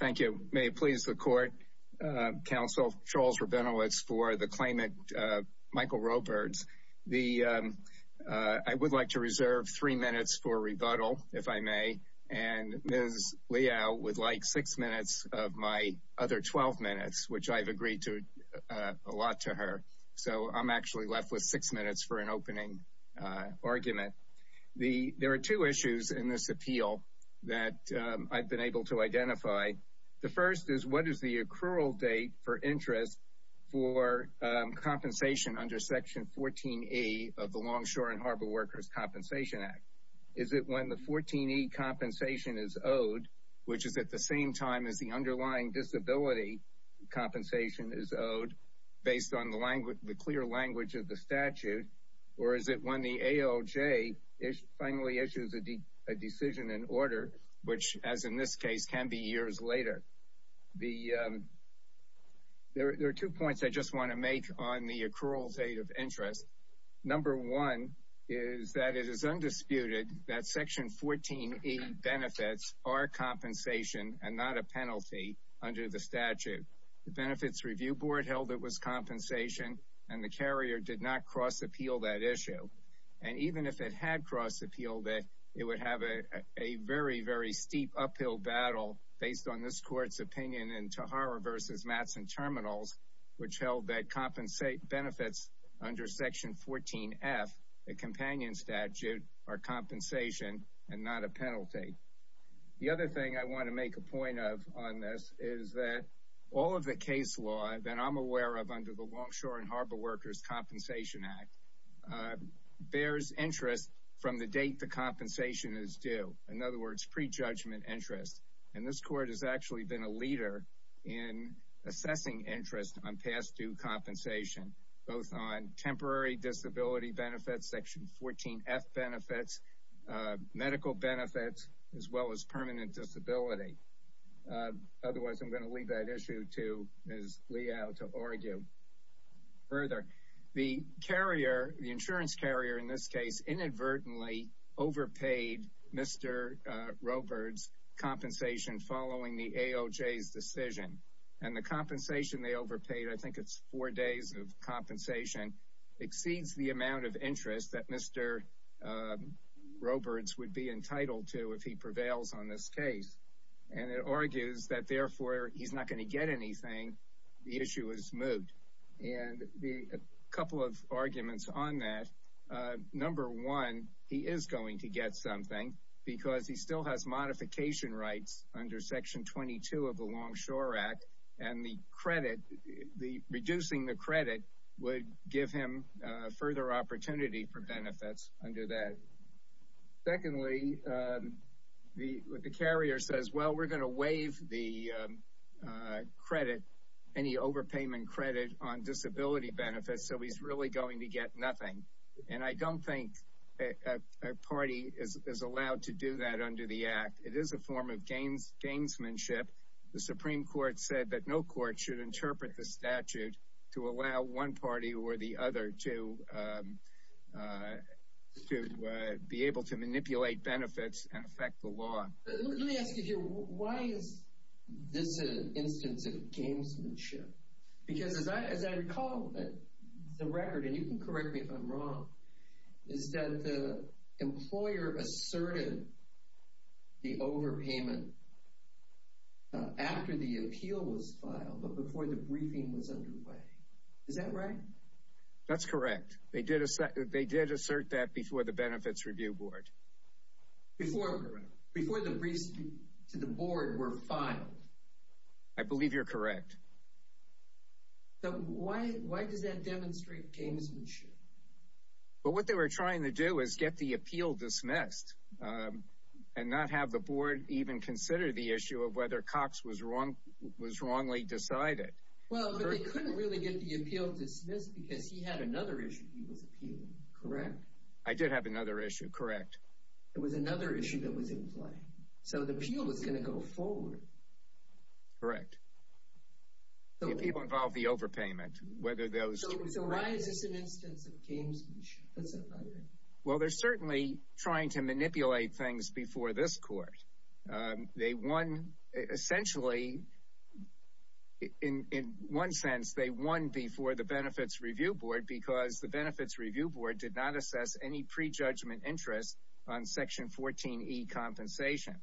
Thank you. May it please the Court, Counsel Charles Rabinowitz for the claimant Michael Robirds. I would like to reserve three minutes for rebuttal, if I may, and Ms. Liao would like six minutes of my other 12 minutes, which I've agreed to a lot to her. So I'm actually left with six minutes for an I've been able to identify. The first is what is the accrual date for interest for compensation under section 14a of the Longshore and Harbor Workers Compensation Act? Is it when the 14e compensation is owed, which is at the same time as the underlying disability compensation is owed, based on the language, the clear language of the statute, or is it when the AOJ finally issues a decision in order, which, as in this case, can be years later? There are two points I just want to make on the accrual date of interest. Number one is that it is undisputed that section 14a benefits are compensation and not a penalty under the statute. The Benefits Review Board held it was compensation, and the carrier did not cross-appeal that issue. And even if it had cross-appealed it, it would have a very, very steep uphill battle based on this court's opinion in Tahara v. Mattson Terminals, which held that benefits under section 14f, a companion statute, are compensation and not a penalty. The other thing I want to make a point of on this is that all of the case law that I'm aware of under the Longshore and Harbor Workers Compensation Act bears interest from the date the compensation is due. In other words, pre-judgment interest. And this court has actually been a leader in assessing interest on past due compensation, both on temporary disability benefits, section 14f benefits, medical benefits, as well as permanent disability. Otherwise, I'm going to leave that issue to Ms. Liao to answer. The carrier, the insurance carrier in this case, inadvertently overpaid Mr. Roberts' compensation following the AOJ's decision. And the compensation they overpaid, I think it's four days of compensation, exceeds the amount of interest that Mr. Roberts would be entitled to if he prevails on this case. And it argues that therefore he's not going to get anything. The issue is moot. And a couple of arguments on that. Number one, he is going to get something because he still has modification rights under section 22 of the Longshore Act. And the credit, the reducing the credit would give him further opportunity for benefits under that. Secondly, the carrier says, well, we're going to waive the credit, any overpayment credit on disability benefits, so he's really going to get nothing. And I don't think a party is allowed to do that under the Act. It is a form of gainsmanship. The Supreme Court said that no court should interpret the statute to allow one party or the other to be able to manipulate benefits and affect the law. Let me ask you here, why is this an instance of gainsmanship? Because as I recall, the record, and you can correct me if I'm wrong, is that the employer asserted the overpayment after the appeal was filed, but before the briefing was underway. Is that right? That's correct. They did assert that before the Benefits Review Board. Before, before the briefs to the board were filed. I believe you're correct. So why, why does that demonstrate gainsmanship? But what they were trying to do is get the appeal dismissed and not have the board even consider the issue of whether Cox was wrong, was wrongly decided. Well, but they couldn't really get the appeal dismissed because he had another issue he was appealing. Correct. I did have another issue. Correct. It was another issue that was in play. So the appeal was going to go forward. Correct. So people involved the overpayment, whether those. So why is this an instance of gainsmanship? Well, they're certainly trying to manipulate things before this court. They won essentially in one sense, they won before the Benefits Review Board because the board did not assess any prejudgment interest on Section 14 E compensation.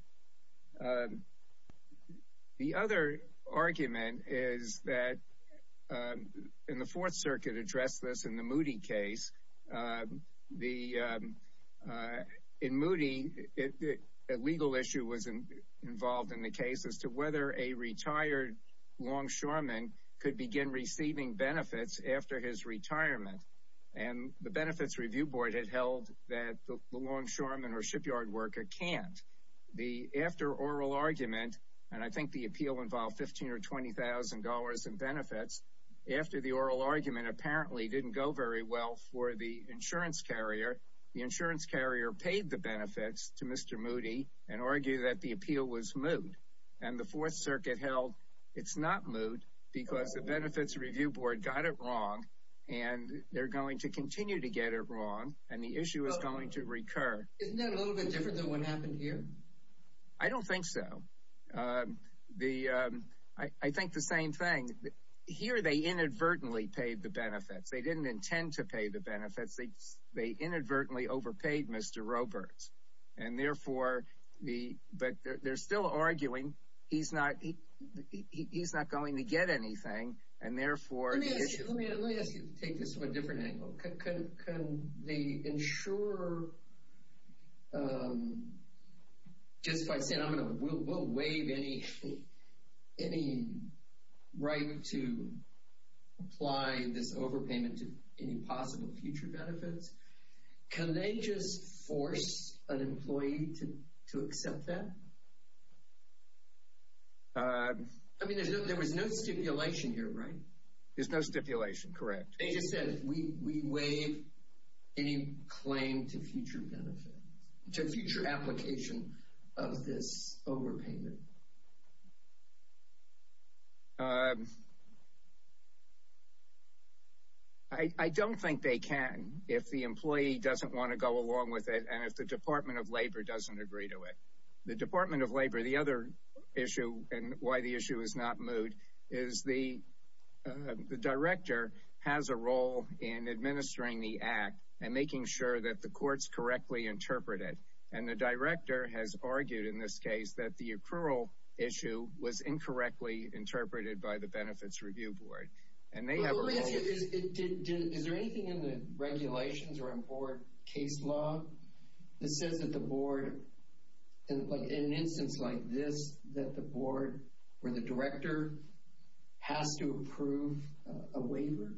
The other argument is that in the Fourth Circuit addressed this in the Moody case. The, in Moody, a legal issue was involved in the case as to whether a retired longshoreman could begin receiving benefits after his retirement. And the Benefits Review Board had held that the longshoreman or shipyard worker can't. The, after oral argument, and I think the appeal involved $15,000 or $20,000 in benefits, after the oral argument apparently didn't go very well for the insurance carrier, the insurance carrier paid the benefits to Mr. Moody and argued that the appeal was moot. And the Fourth Circuit held it's not moot because the Benefits Review Board got it wrong and they're going to continue to get it wrong and the issue is going to recur. Isn't that a little bit different than what happened here? I don't think so. The, I think the same thing. Here they inadvertently paid the benefits. They didn't intend to pay the benefits. They inadvertently overpaid Mr. Roberts. And therefore, the, but they're still arguing he's not, he's not going to get anything and therefore. Let me ask you, let me ask you to take this from a different angle. Can they insure, just by saying I'm going to, we'll waive any right to apply this overpayment to any possible future benefits. Can they just force an employee to accept that? I mean, there was no stipulation here, right? There's no stipulation, correct. They just said we waive any claim to future benefits, to future application of this overpayment. I don't think they can if the employee doesn't want to go along with it and if the Department of Labor doesn't agree to it. The Department of Labor, the other issue, and why the issue is not moved, is the, the director has a role in administering the act and making sure that the courts correctly interpret it. And the director has argued in this case that the accrual issue was incorrectly interpreted by the benefits review board. And they have a role here. Is there anything in the regulations or in board case law that says that the board, in an instance like this, that the board or the director has to approve a waiver?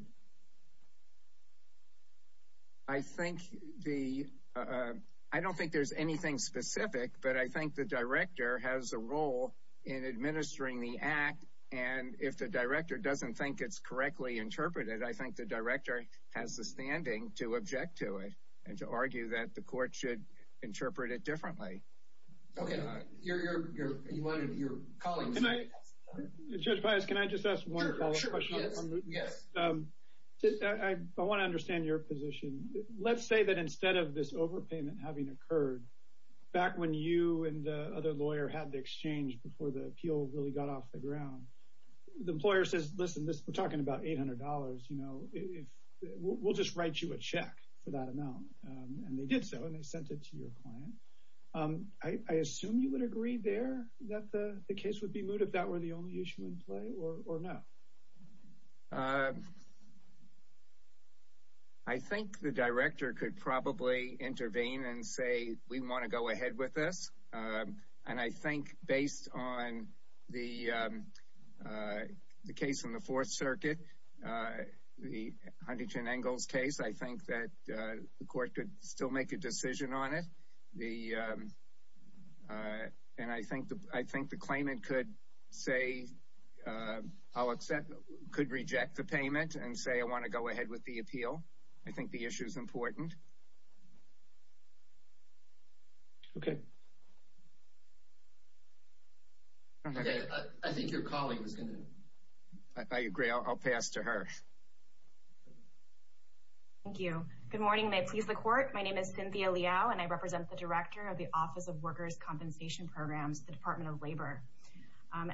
I think the, I don't think there's anything specific, but I think the director has a role in administering the act. And if the director doesn't think it's correctly interpreted, I think the director has the standing to object to it and to argue that the court should interpret it differently. Okay, you're, you're, you're, you wanted, you're calling. Can I, Judge Pius, can I just ask one follow up question on the, on the, I want to understand your position. Let's say that instead of this overpayment having occurred, back when you and the other lawyer had the exchange before the appeal really got off the ground, the employer says, listen, this, we're talking about $800, you know, if, we'll just write you a check for that amount. And they did so, and they sent it to your client. I assume you would agree there that the case would be moot if that were the only issue in play or not. I think the director could probably intervene and say, we want to go ahead with this. And I think based on the, the case in the Fourth Circuit, the Huntington-Engels case, I think that the court could still make a decision on it. The, and I think the, I think the claimant could say, I'll accept, could reject the payment and say, I want to go ahead with the appeal. I think the issue's important. Okay. I think your colleague is going to. I agree, I'll pass to her. Thank you. Good morning, and may it please the court. My name is Cynthia Liao, and I represent the director of the Office of Workers' Compensation Programs, the Department of Labor.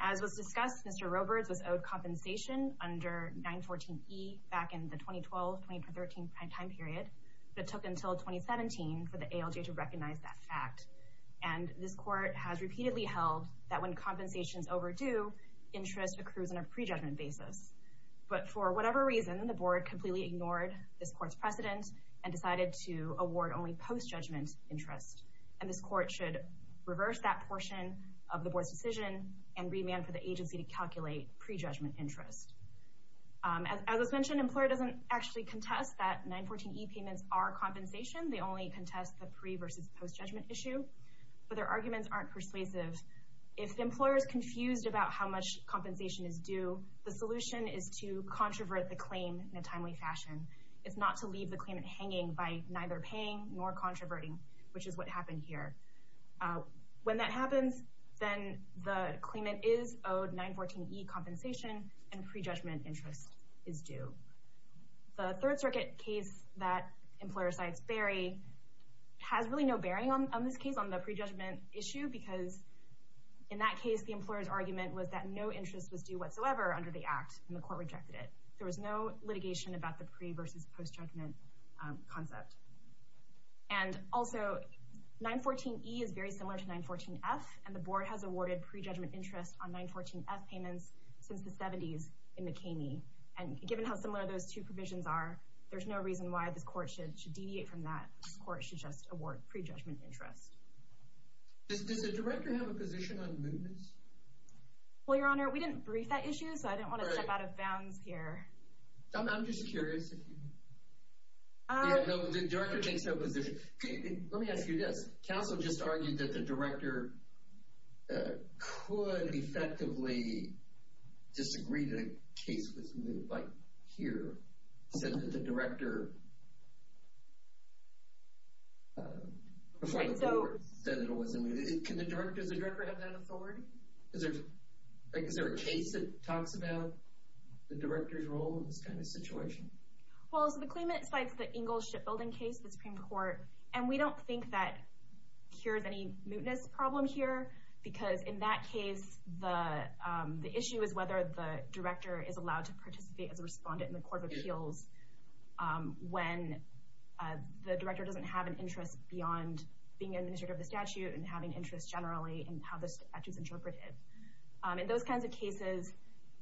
As was discussed, Mr. Roberts was owed compensation under 914E back in the 2012-2013 prime time period, but it took until 2017 for the ALJ to recognize that fact. And this court has repeatedly held that when compensation is overdue, interest accrues on a pre-judgment basis. But for whatever reason, the board completely ignored this court's precedent and decided to award only post-judgment interest. And this court should reverse that portion of the board's decision and remand for the agency to calculate pre-judgment interest. As was mentioned, the employer doesn't actually contest that 914E payments are compensation. They only contest the pre- versus post-judgment issue. But their arguments aren't persuasive. If the employer is confused about how much compensation is due, the solution is to controvert the claim in a timely fashion. It's not to leave the claimant hanging by neither paying nor controverting, which is what happened here. When that happens, then the claimant is owed 914E compensation and pre-judgment interest is due. The Third Circuit case that employer cites, Barry, has really no bearing on this case on the pre-judgment issue because in that case, the employer's argument was that no interest was due whatsoever under the act, and the court rejected it. There was no litigation about the pre- versus post-judgment concept. And also, 914E is very similar to 914F, and the board has awarded pre-judgment interest on 914F payments since the 70s in McKamey. And given how similar those two provisions are, there's no reason why this court should deviate from that. This court should just award pre-judgment interest. Does the director have a position on mootness? Well, Your Honor, we didn't brief that issue, so I didn't want to step out of bounds here. I'm just curious if you... Yeah, no, the director takes no position. Let me ask you this. Counsel just argued that the director could effectively disagree that a case was moot, like here, said that the director before the board said it was moot. Can the director, does the director have that authority? Is there a case that talks about the director's role in this kind of situation? Well, so the claimant cites the Ingalls Shipbuilding case, the Supreme Court, and we don't think that here's any mootness problem here, because in that case, the issue is whether the director is allowed to participate as a respondent in the Court of Appeals when the director doesn't have an interest beyond being an administrator of the statute and having interest generally in how the statute is interpreted. In those kinds of cases,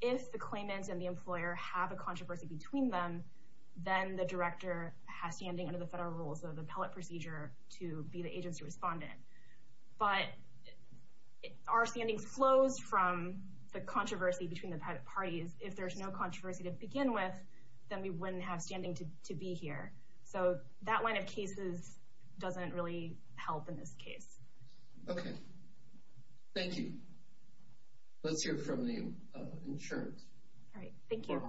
if the claimant and the employer have a controversy between them, then the director has standing under the federal rules of the appellate procedure to be the agency respondent. Our standing flows from the controversy between the parties. If there's no controversy to begin with, then we wouldn't have standing to be here. So that line of cases doesn't really help in this case. Okay. Thank you. Let's hear from the insurance. All right. Thank you.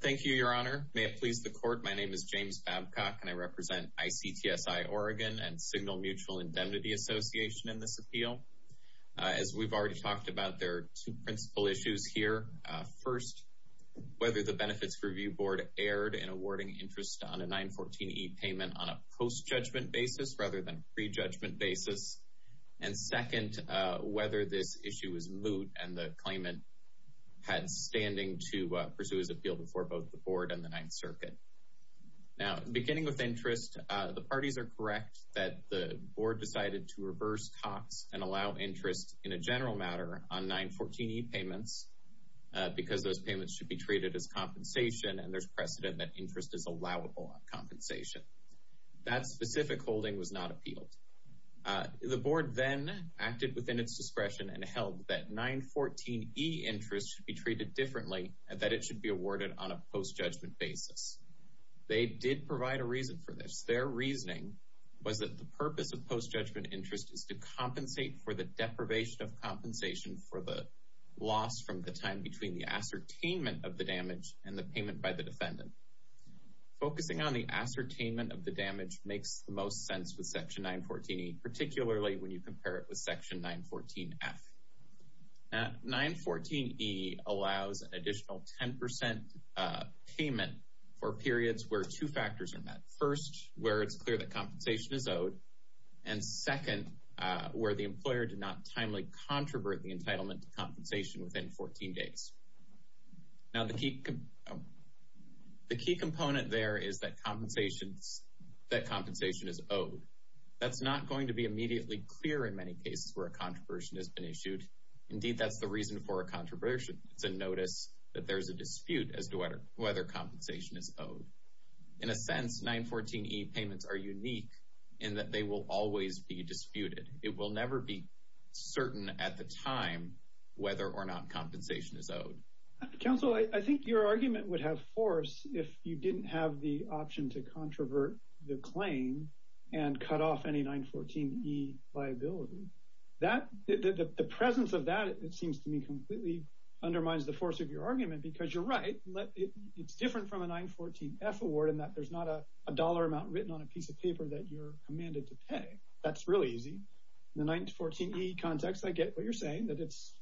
Thank you, Your Honor. May it please the Court, my name is James Babcock, and I represent ICTSI Oregon and Signal Mutual Indemnity Association in this appeal. As we've already talked about, there are two principal issues here. First, whether the Benefits Review Board erred in awarding interest on a 914E payment on a post-judgment basis rather than a pre-judgment basis. And second, whether this issue was moot and the claimant had standing to pursue his appeal before both the Board and the 9th Circuit. Now, beginning with interest, the parties are correct that the Board decided to reverse costs and allow interest in a general matter on 914E payments because those payments should be treated as compensation and there's precedent that interest is allowable on compensation. That specific holding was not appealed. The Board then acted within its discretion and held that 914E interest should be treated differently and that it should be awarded on a post-judgment basis. They did provide a reason for this. Their reasoning was that the purpose of post-judgment interest is to compensate for the deprivation of compensation for the loss from the time between the ascertainment of the damage and the payment by the defendant. Focusing on the ascertainment of the damage makes the most sense with Section 914E, particularly when you compare it with Section 914F. Now, 914E allows an additional 10% payment for periods where two factors are met. First, where it's clear that compensation is owed and second, where the employer did not timely controvert the entitlement to compensation within 14 days. Now, the key component there is that compensation is owed. That's not going to be immediately clear in many cases where a controversy has been issued. Indeed, that's the reason for a controversy. It's a notice that there's a dispute as to whether compensation is owed. In a sense, 914E payments are unique in that they will always be disputed. It will never be certain at the time whether or not compensation is owed. Counsel, I think your argument would have force if you didn't have the option to controvert the claim and cut off any 914E liability. The presence of that, it seems to me, completely undermines the force of your argument because you're right. It's different from a 914F award in that there's not a dollar amount written on a piece of paper that you're commanded to pay. That's really easy. In the 914E context, I get what you're saying. There's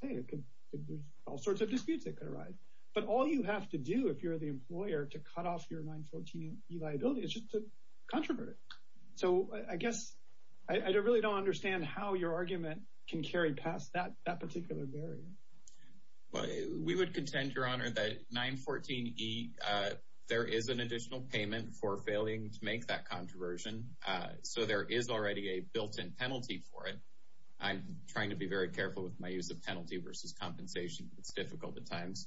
all sorts of disputes that could arise. But all you have to do if you're the employer to cut off your 914E liability is just to controvert it. So I guess I really don't understand how your argument can carry past that particular barrier. We would contend, Your Honor, that 914E, there is an additional payment for failing to make that controversion. So there is already a built-in penalty for it. I'm trying to be very careful with my use of penalty versus compensation. It's difficult at times.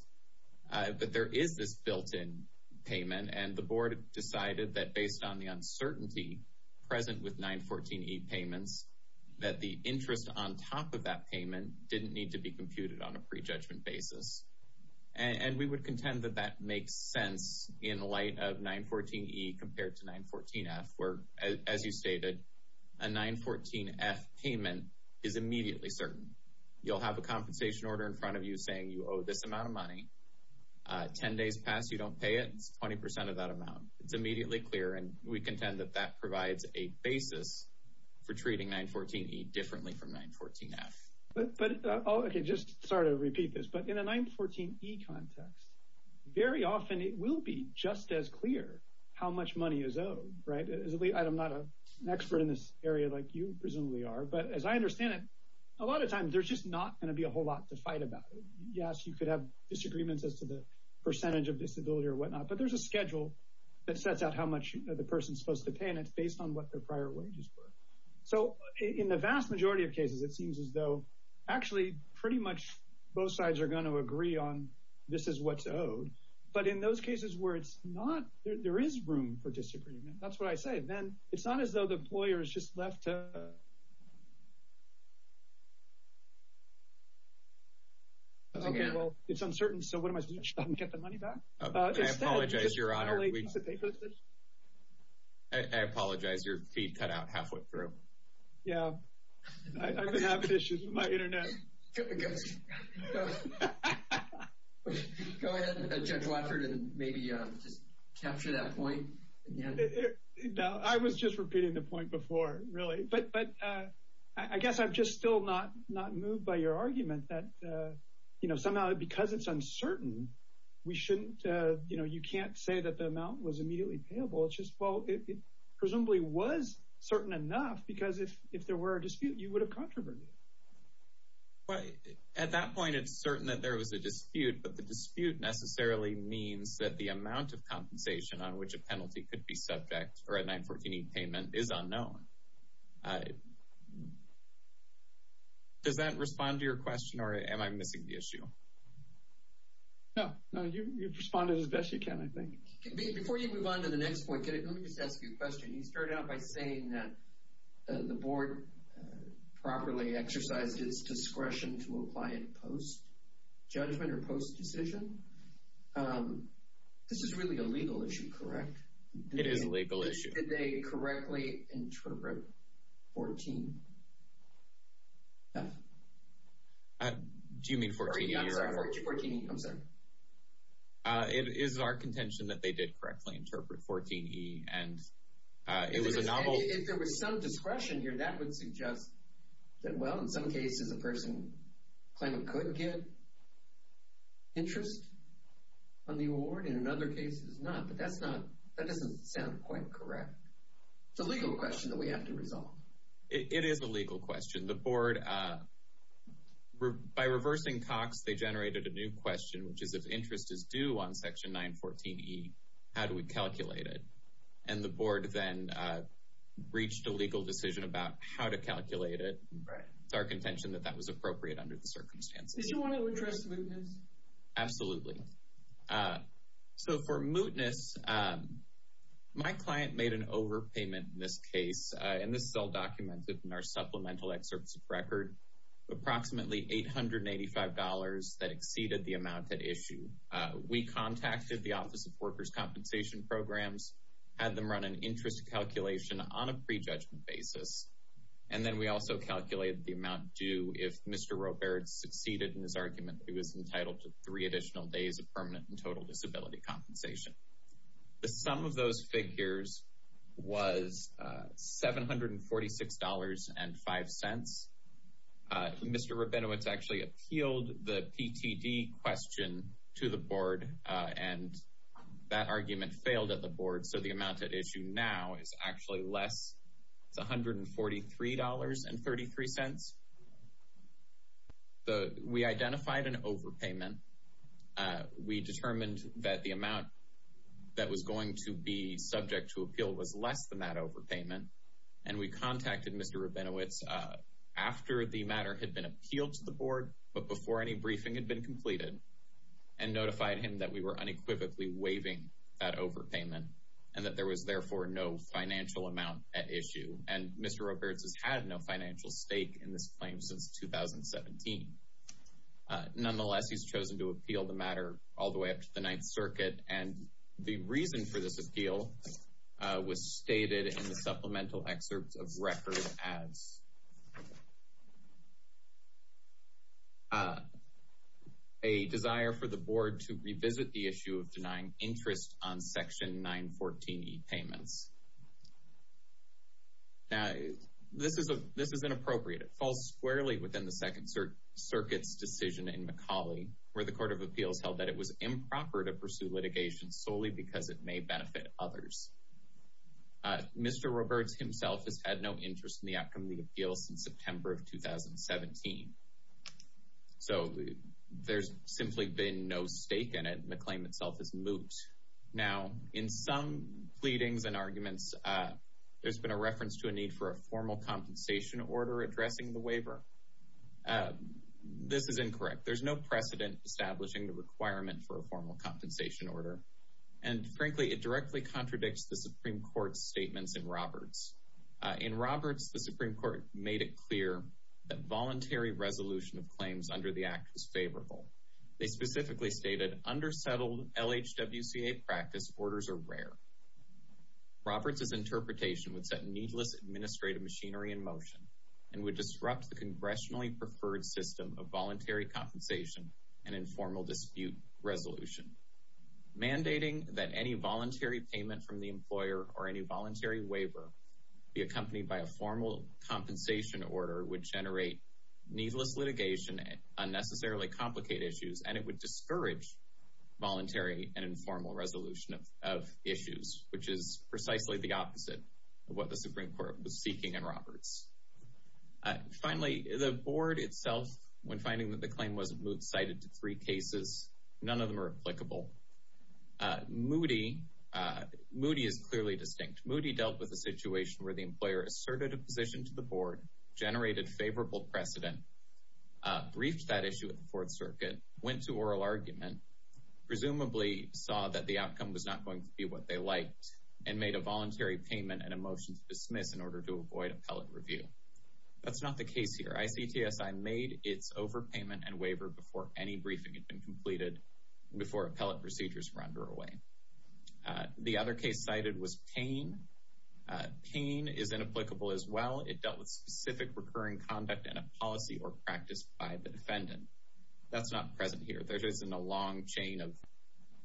But there is this built-in payment, and the Board decided that based on the uncertainty present with 914E payments, that the interest on top of that payment didn't need to be computed on a prejudgment basis. And we would contend that that makes sense in light of 914E compared to 914F where, as you stated, a 914F payment is immediately certain. You'll have a compensation order in front of you saying you owe this amount of money. Ten days pass, you don't pay it, it's 20% of that amount. It's immediately clear, and we contend that that provides a basis for treating 914E differently from 914F. But, okay, just sorry to repeat this, but in a 914E context, very often it will be just as clear how much money is owed, right? I'm not an expert in this area like you presumably are, but as I understand it, a lot of times there's just not going to be a whole lot to fight about. Yes, you could have disagreements as to the percentage of disability or whatnot, but there's a schedule that sets out how much the person's supposed to pay, and it's based on what their prior wages were. So in the vast majority of cases, it seems as though, actually, pretty much both sides are going to agree on this is what's owed. But in those cases where there is room for disagreement, that's what I say, then it's not as though the employer is just left to... Okay, well, it's uncertain, so what am I supposed to do? Stop and get the money back? I apologize, Your Honor. I apologize. Your feed cut out halfway through. Yeah, I've been having issues with my internet. Go ahead. Go ahead, Judge Watford, and maybe just capture that point again. No, I was just repeating the point before, really. I guess I'm just still not moved by your argument that somehow, because it's uncertain, you can't say that the amount was immediately payable. It presumably was certain enough because if there were a dispute, you would have controverted it. At that point, it's certain that there was a dispute, but the dispute necessarily means that the amount of compensation on which a penalty could be subject or a 914E payment is unknown. Does that respond to your question, or am I missing the issue? No, you've responded as best you can, I think. Before you move on to the next point, let me just ask you a question. You started out by saying that the Board properly exercised its discretion to apply it post-judgment or post-decision. This is really a legal issue, correct? It is a legal issue. Did they correctly interpret 14F? Do you mean 14E? I'm sorry. Is it our contention that they did correctly interpret 14E, and it was a novel... If there was some discretion here, that would suggest that, well, in some cases, a person could get interest on the award, and in other cases, not. But that doesn't sound quite correct. It's a legal question that we have to resolve. It is a legal question. The Board, by reversing Cox, they generated a new question, which is, if interest is due on section 914E, how do we calculate it? And the Board then reached a legal decision about how to calculate it. It's our contention that that was appropriate under the circumstances. Did you want to address mootness? Absolutely. So, for mootness, my client made an overpayment in this case, and this is all documented in our supplemental excerpts of record. Approximately $885 that exceeded the amount at issue. We contacted the Office of Workers' Compensation Programs, had them run an interest calculation on a pre-judgment basis, and then we also calculated the amount due if Mr. Roberts succeeded in his argument that he was entitled to three additional days of permanent and total disability compensation. The sum of those figures was $746.05. Mr. Rabinowitz actually appealed the PTD question to the Board, and that argument failed at the Board, so the amount at issue now is actually less. It's $143.33. We identified an overpayment. We determined that the amount that was going to be subject to appeal was less than that overpayment, and we contacted Mr. Rabinowitz after the matter had been appealed to the Board, but before any briefing had been completed, and notified him that we were unequivocally waiving that overpayment, and that there was therefore no financial amount at issue, and Mr. Roberts has had no financial stake in this claim since 2017. Nonetheless, he's chosen to appeal the matter all the way up to the Ninth Circuit, and the reason for this appeal was stated in the supplemental excerpt of record as a desire for the Board to revisit the issue of denying interest on Section 914E payments. Now, this is inappropriate. It falls squarely within the Second Circuit's decision in Macaulay, where the Court of Appeals held that it was improper to pursue litigation solely because it may benefit others. Mr. Roberts himself has had no interest in the outcome of the appeal since September of 2017. So, there's simply been no stake in it, and the claim itself is moot. Now, in some pleadings and arguments, there's been a reference to a need for a formal compensation order addressing the waiver. This is incorrect. There's no precedent establishing the requirement for a formal compensation order, and frankly, it directly contradicts the Supreme Court's statements in Roberts. In Roberts, the Supreme Court made it clear that voluntary resolution of claims under the Act was favorable. They specifically stated, undersettled LHWCA practice orders are rare. Roberts' interpretation would set needless administrative machinery in motion and would disrupt the congressionally preferred system of voluntary compensation and informal dispute resolution. Mandating that any voluntary payment from the employer or any voluntary waiver be accompanied by a formal compensation order would generate needless litigation and unnecessarily complicated issues, and it would discourage voluntary and informal resolution of issues, which is precisely the opposite of what the Supreme Court was seeking in Roberts. Finally, the board was moot, cited three cases. None of them are applicable. Moody Moody is clearly distinct. Moody dealt with a situation where the employer asserted a position to the board, generated favorable precedent, briefed that issue at the Fourth Circuit, went to oral argument, presumably saw that the outcome was not going to be what they liked, and made a voluntary payment and a motion to dismiss in order to avoid appellate review. That's not the case here. ICTSI made its overpayment and waiver before any briefing had been completed, before appellate procedures were underway. The other case cited was Payne. Payne is inapplicable as well. It dealt with specific recurring conduct and a policy or practice by the defendant. That's not present here. There isn't a long chain of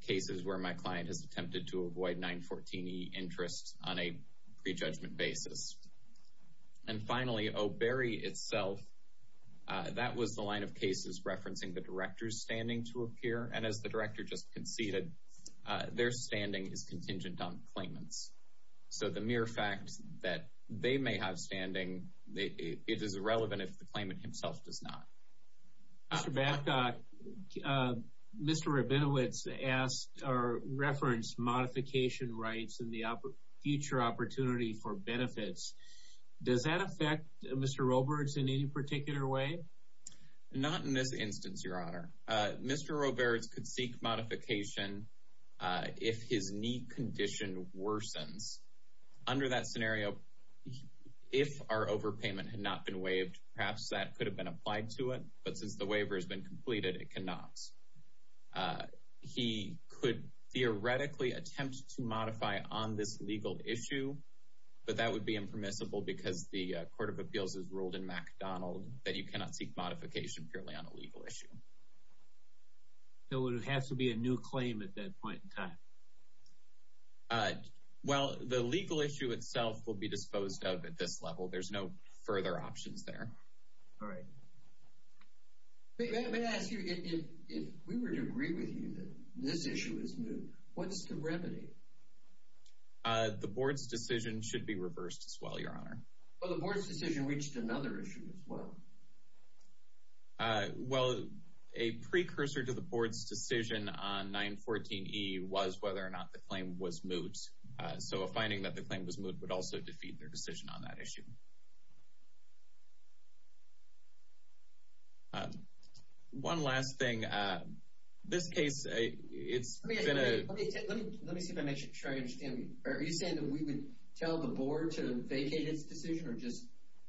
cases where my client has attempted to avoid 914E interests on a prejudgment basis. And finally, O'Berry itself, that was the line of cases referencing the director's standing to appear, and as the director just conceded, their standing is contingent on claimants. So the mere fact that they may have standing, it is irrelevant if the claimant himself does not. Mr. Babcock, Mr. Rabinowitz referenced modification rights and the future opportunity for benefits. Does that affect Mr. Roberts in any particular way? Not in this instance, Your Honor. Mr. Roberts could seek modification if his knee condition worsens. Under that scenario, if our overpayment had not been waived, perhaps that could have been applied to it, but since the waiver has been completed, it cannot. He could theoretically attempt to modify on this legal issue, but that would be impermissible because the Court of Appeals would not seek modification purely on a legal issue. So would it have to be a new claim at that point in time? Well, the legal issue itself will be disposed of at this level. There's no further options there. All right. Let me ask you again. If we were to agree with you that this issue is new, what's the remedy? The Board's decision should be reversed as well, Your Honor. Well, the Board's decision reached another issue as well. Well, a precursor to the Board's decision on 914E was whether or not the claim was moot. So a finding that the claim was moot would also defeat their decision on that issue. One last thing. This case, it's been a... Let me see if I make sure I understand. Are you saying that we would tell the Board to vacate its decision or just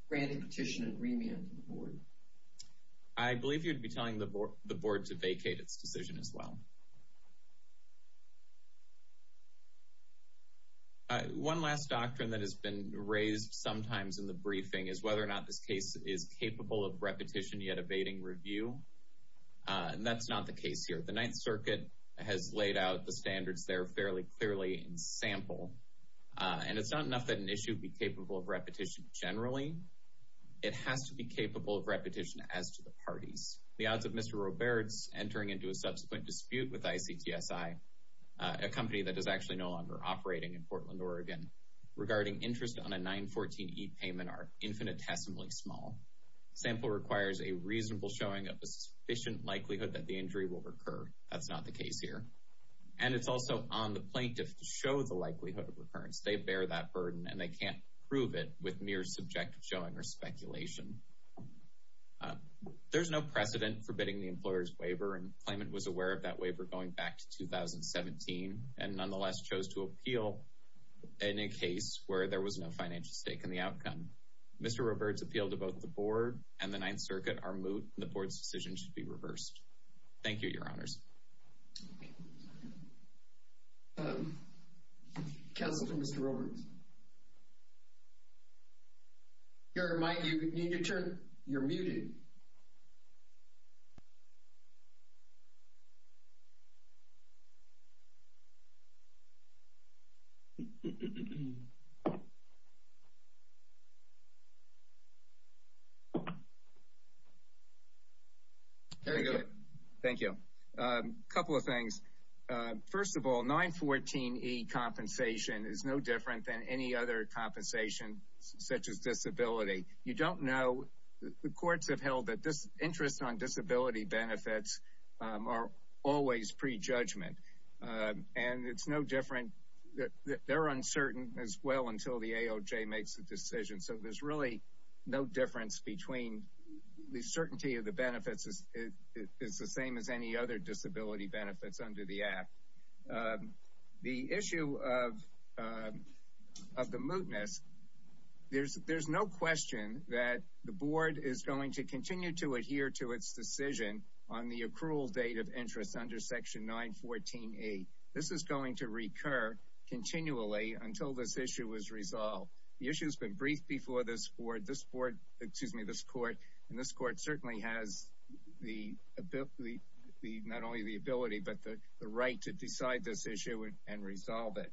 grant a petition and remand to the Board? I believe you'd be telling the Board to vacate its decision as well. One last doctrine that has been raised sometimes in the briefing is whether or not this case is capable of repetition yet evading review. And that's not the case here. The Ninth Circuit has laid out the standards there fairly clearly in sample. And it's not enough that an issue be capable of repetition generally. It has to be capable of repetition as to the parties. The odds of Mr. Roberts entering into a subsequent dispute with ICTSI, a company that is actually no longer operating in Portland, Oregon, regarding interest on a 914E payment are infinitesimally small. Sample requires a reasonable showing of a sufficient likelihood that the injury will recur. That's not the case here. And it's also on the plaintiff to show the likelihood of recurrence. They bear that burden, and they can't prove it with mere subjective showing or speculation. There's no precedent for bidding the employer's waiver, and the claimant was aware of that waiver going back to 2017, and nonetheless chose to appeal in a case where there was no financial stake in the outcome. Mr. Roberts' appeal to both the Board and the Ninth Circuit are moot, and the Board's decision should be reversed. Thank you, Your Honors. Counselor to Mr. Roberts. You're muted. There you go. Thank you, Your Honors. First of all, 914E compensation is no different than any other compensation such as disability. You don't know. The courts have held that this interest on disability benefits are always prejudgment, and it's no different. They're uncertain as well until the AOJ makes a decision. So there's really no difference between the certainty of the benefits is the same as any other disability benefits under the Act. The issue of the mootness, there's no question that the Board is going to continue to adhere to its decision on the accrual date of interest under section 914E. This is going to recur continually until this issue is resolved. The issue has been briefed before this Court, and this Court certainly has not only the ability but the right to decide this issue and resolve it.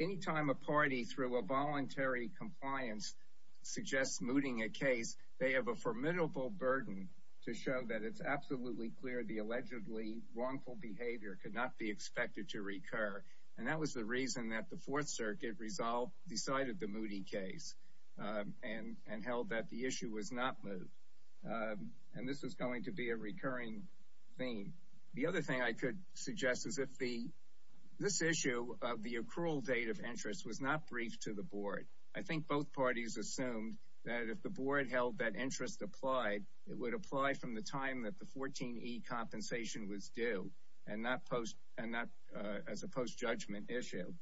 Anytime a party through a voluntary compliance suggests mooting a case, they have a formidable burden to show that it's absolutely clear the allegedly wrongful behavior could not be expected to recur, and that was the reason that the Fourth Circuit decided the mooting case and held that the issue was not moot. And this is going to be a recurring theme. The other thing I could suggest is if this issue of the accrual date of interest was not briefed to the Board, I think both parties assumed that if the Board held that interest applied, it would apply from the time that the 14E compensation was due, as a post-judgment issue.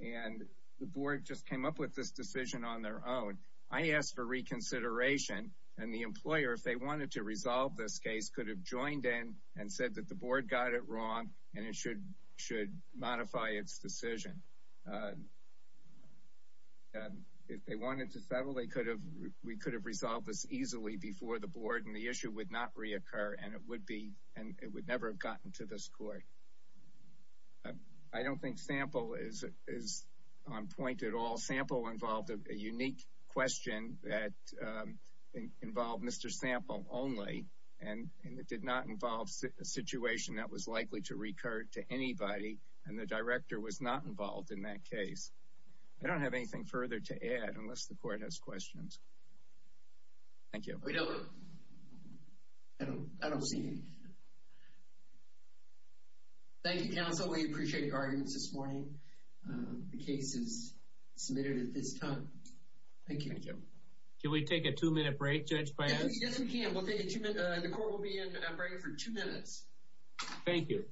And the Board just came up with this decision on their own. I asked for reconsideration, and the employer, if they wanted to resolve this case, could have joined in and said that the Board got it wrong and it should modify its decision. If they wanted to settle, we could have resolved this easily before the Board and the issue would not reoccur and it would never have gotten to this Court. I don't think sample is on point at all. Sample involved a unique question that involved Mr. Sample only and it did not involve a situation that was likely to recur to anybody, and the Director was not involved in that case. I don't have anything further to add, unless the Court has questions. Thank you. I don't see anything. Thank you, Counsel. We appreciate your arguments this morning. The case is submitted at this time. Thank you. Can we take a two-minute break, Judge Paz? Yes, we can. The Court will be in a break for two minutes. Thank you.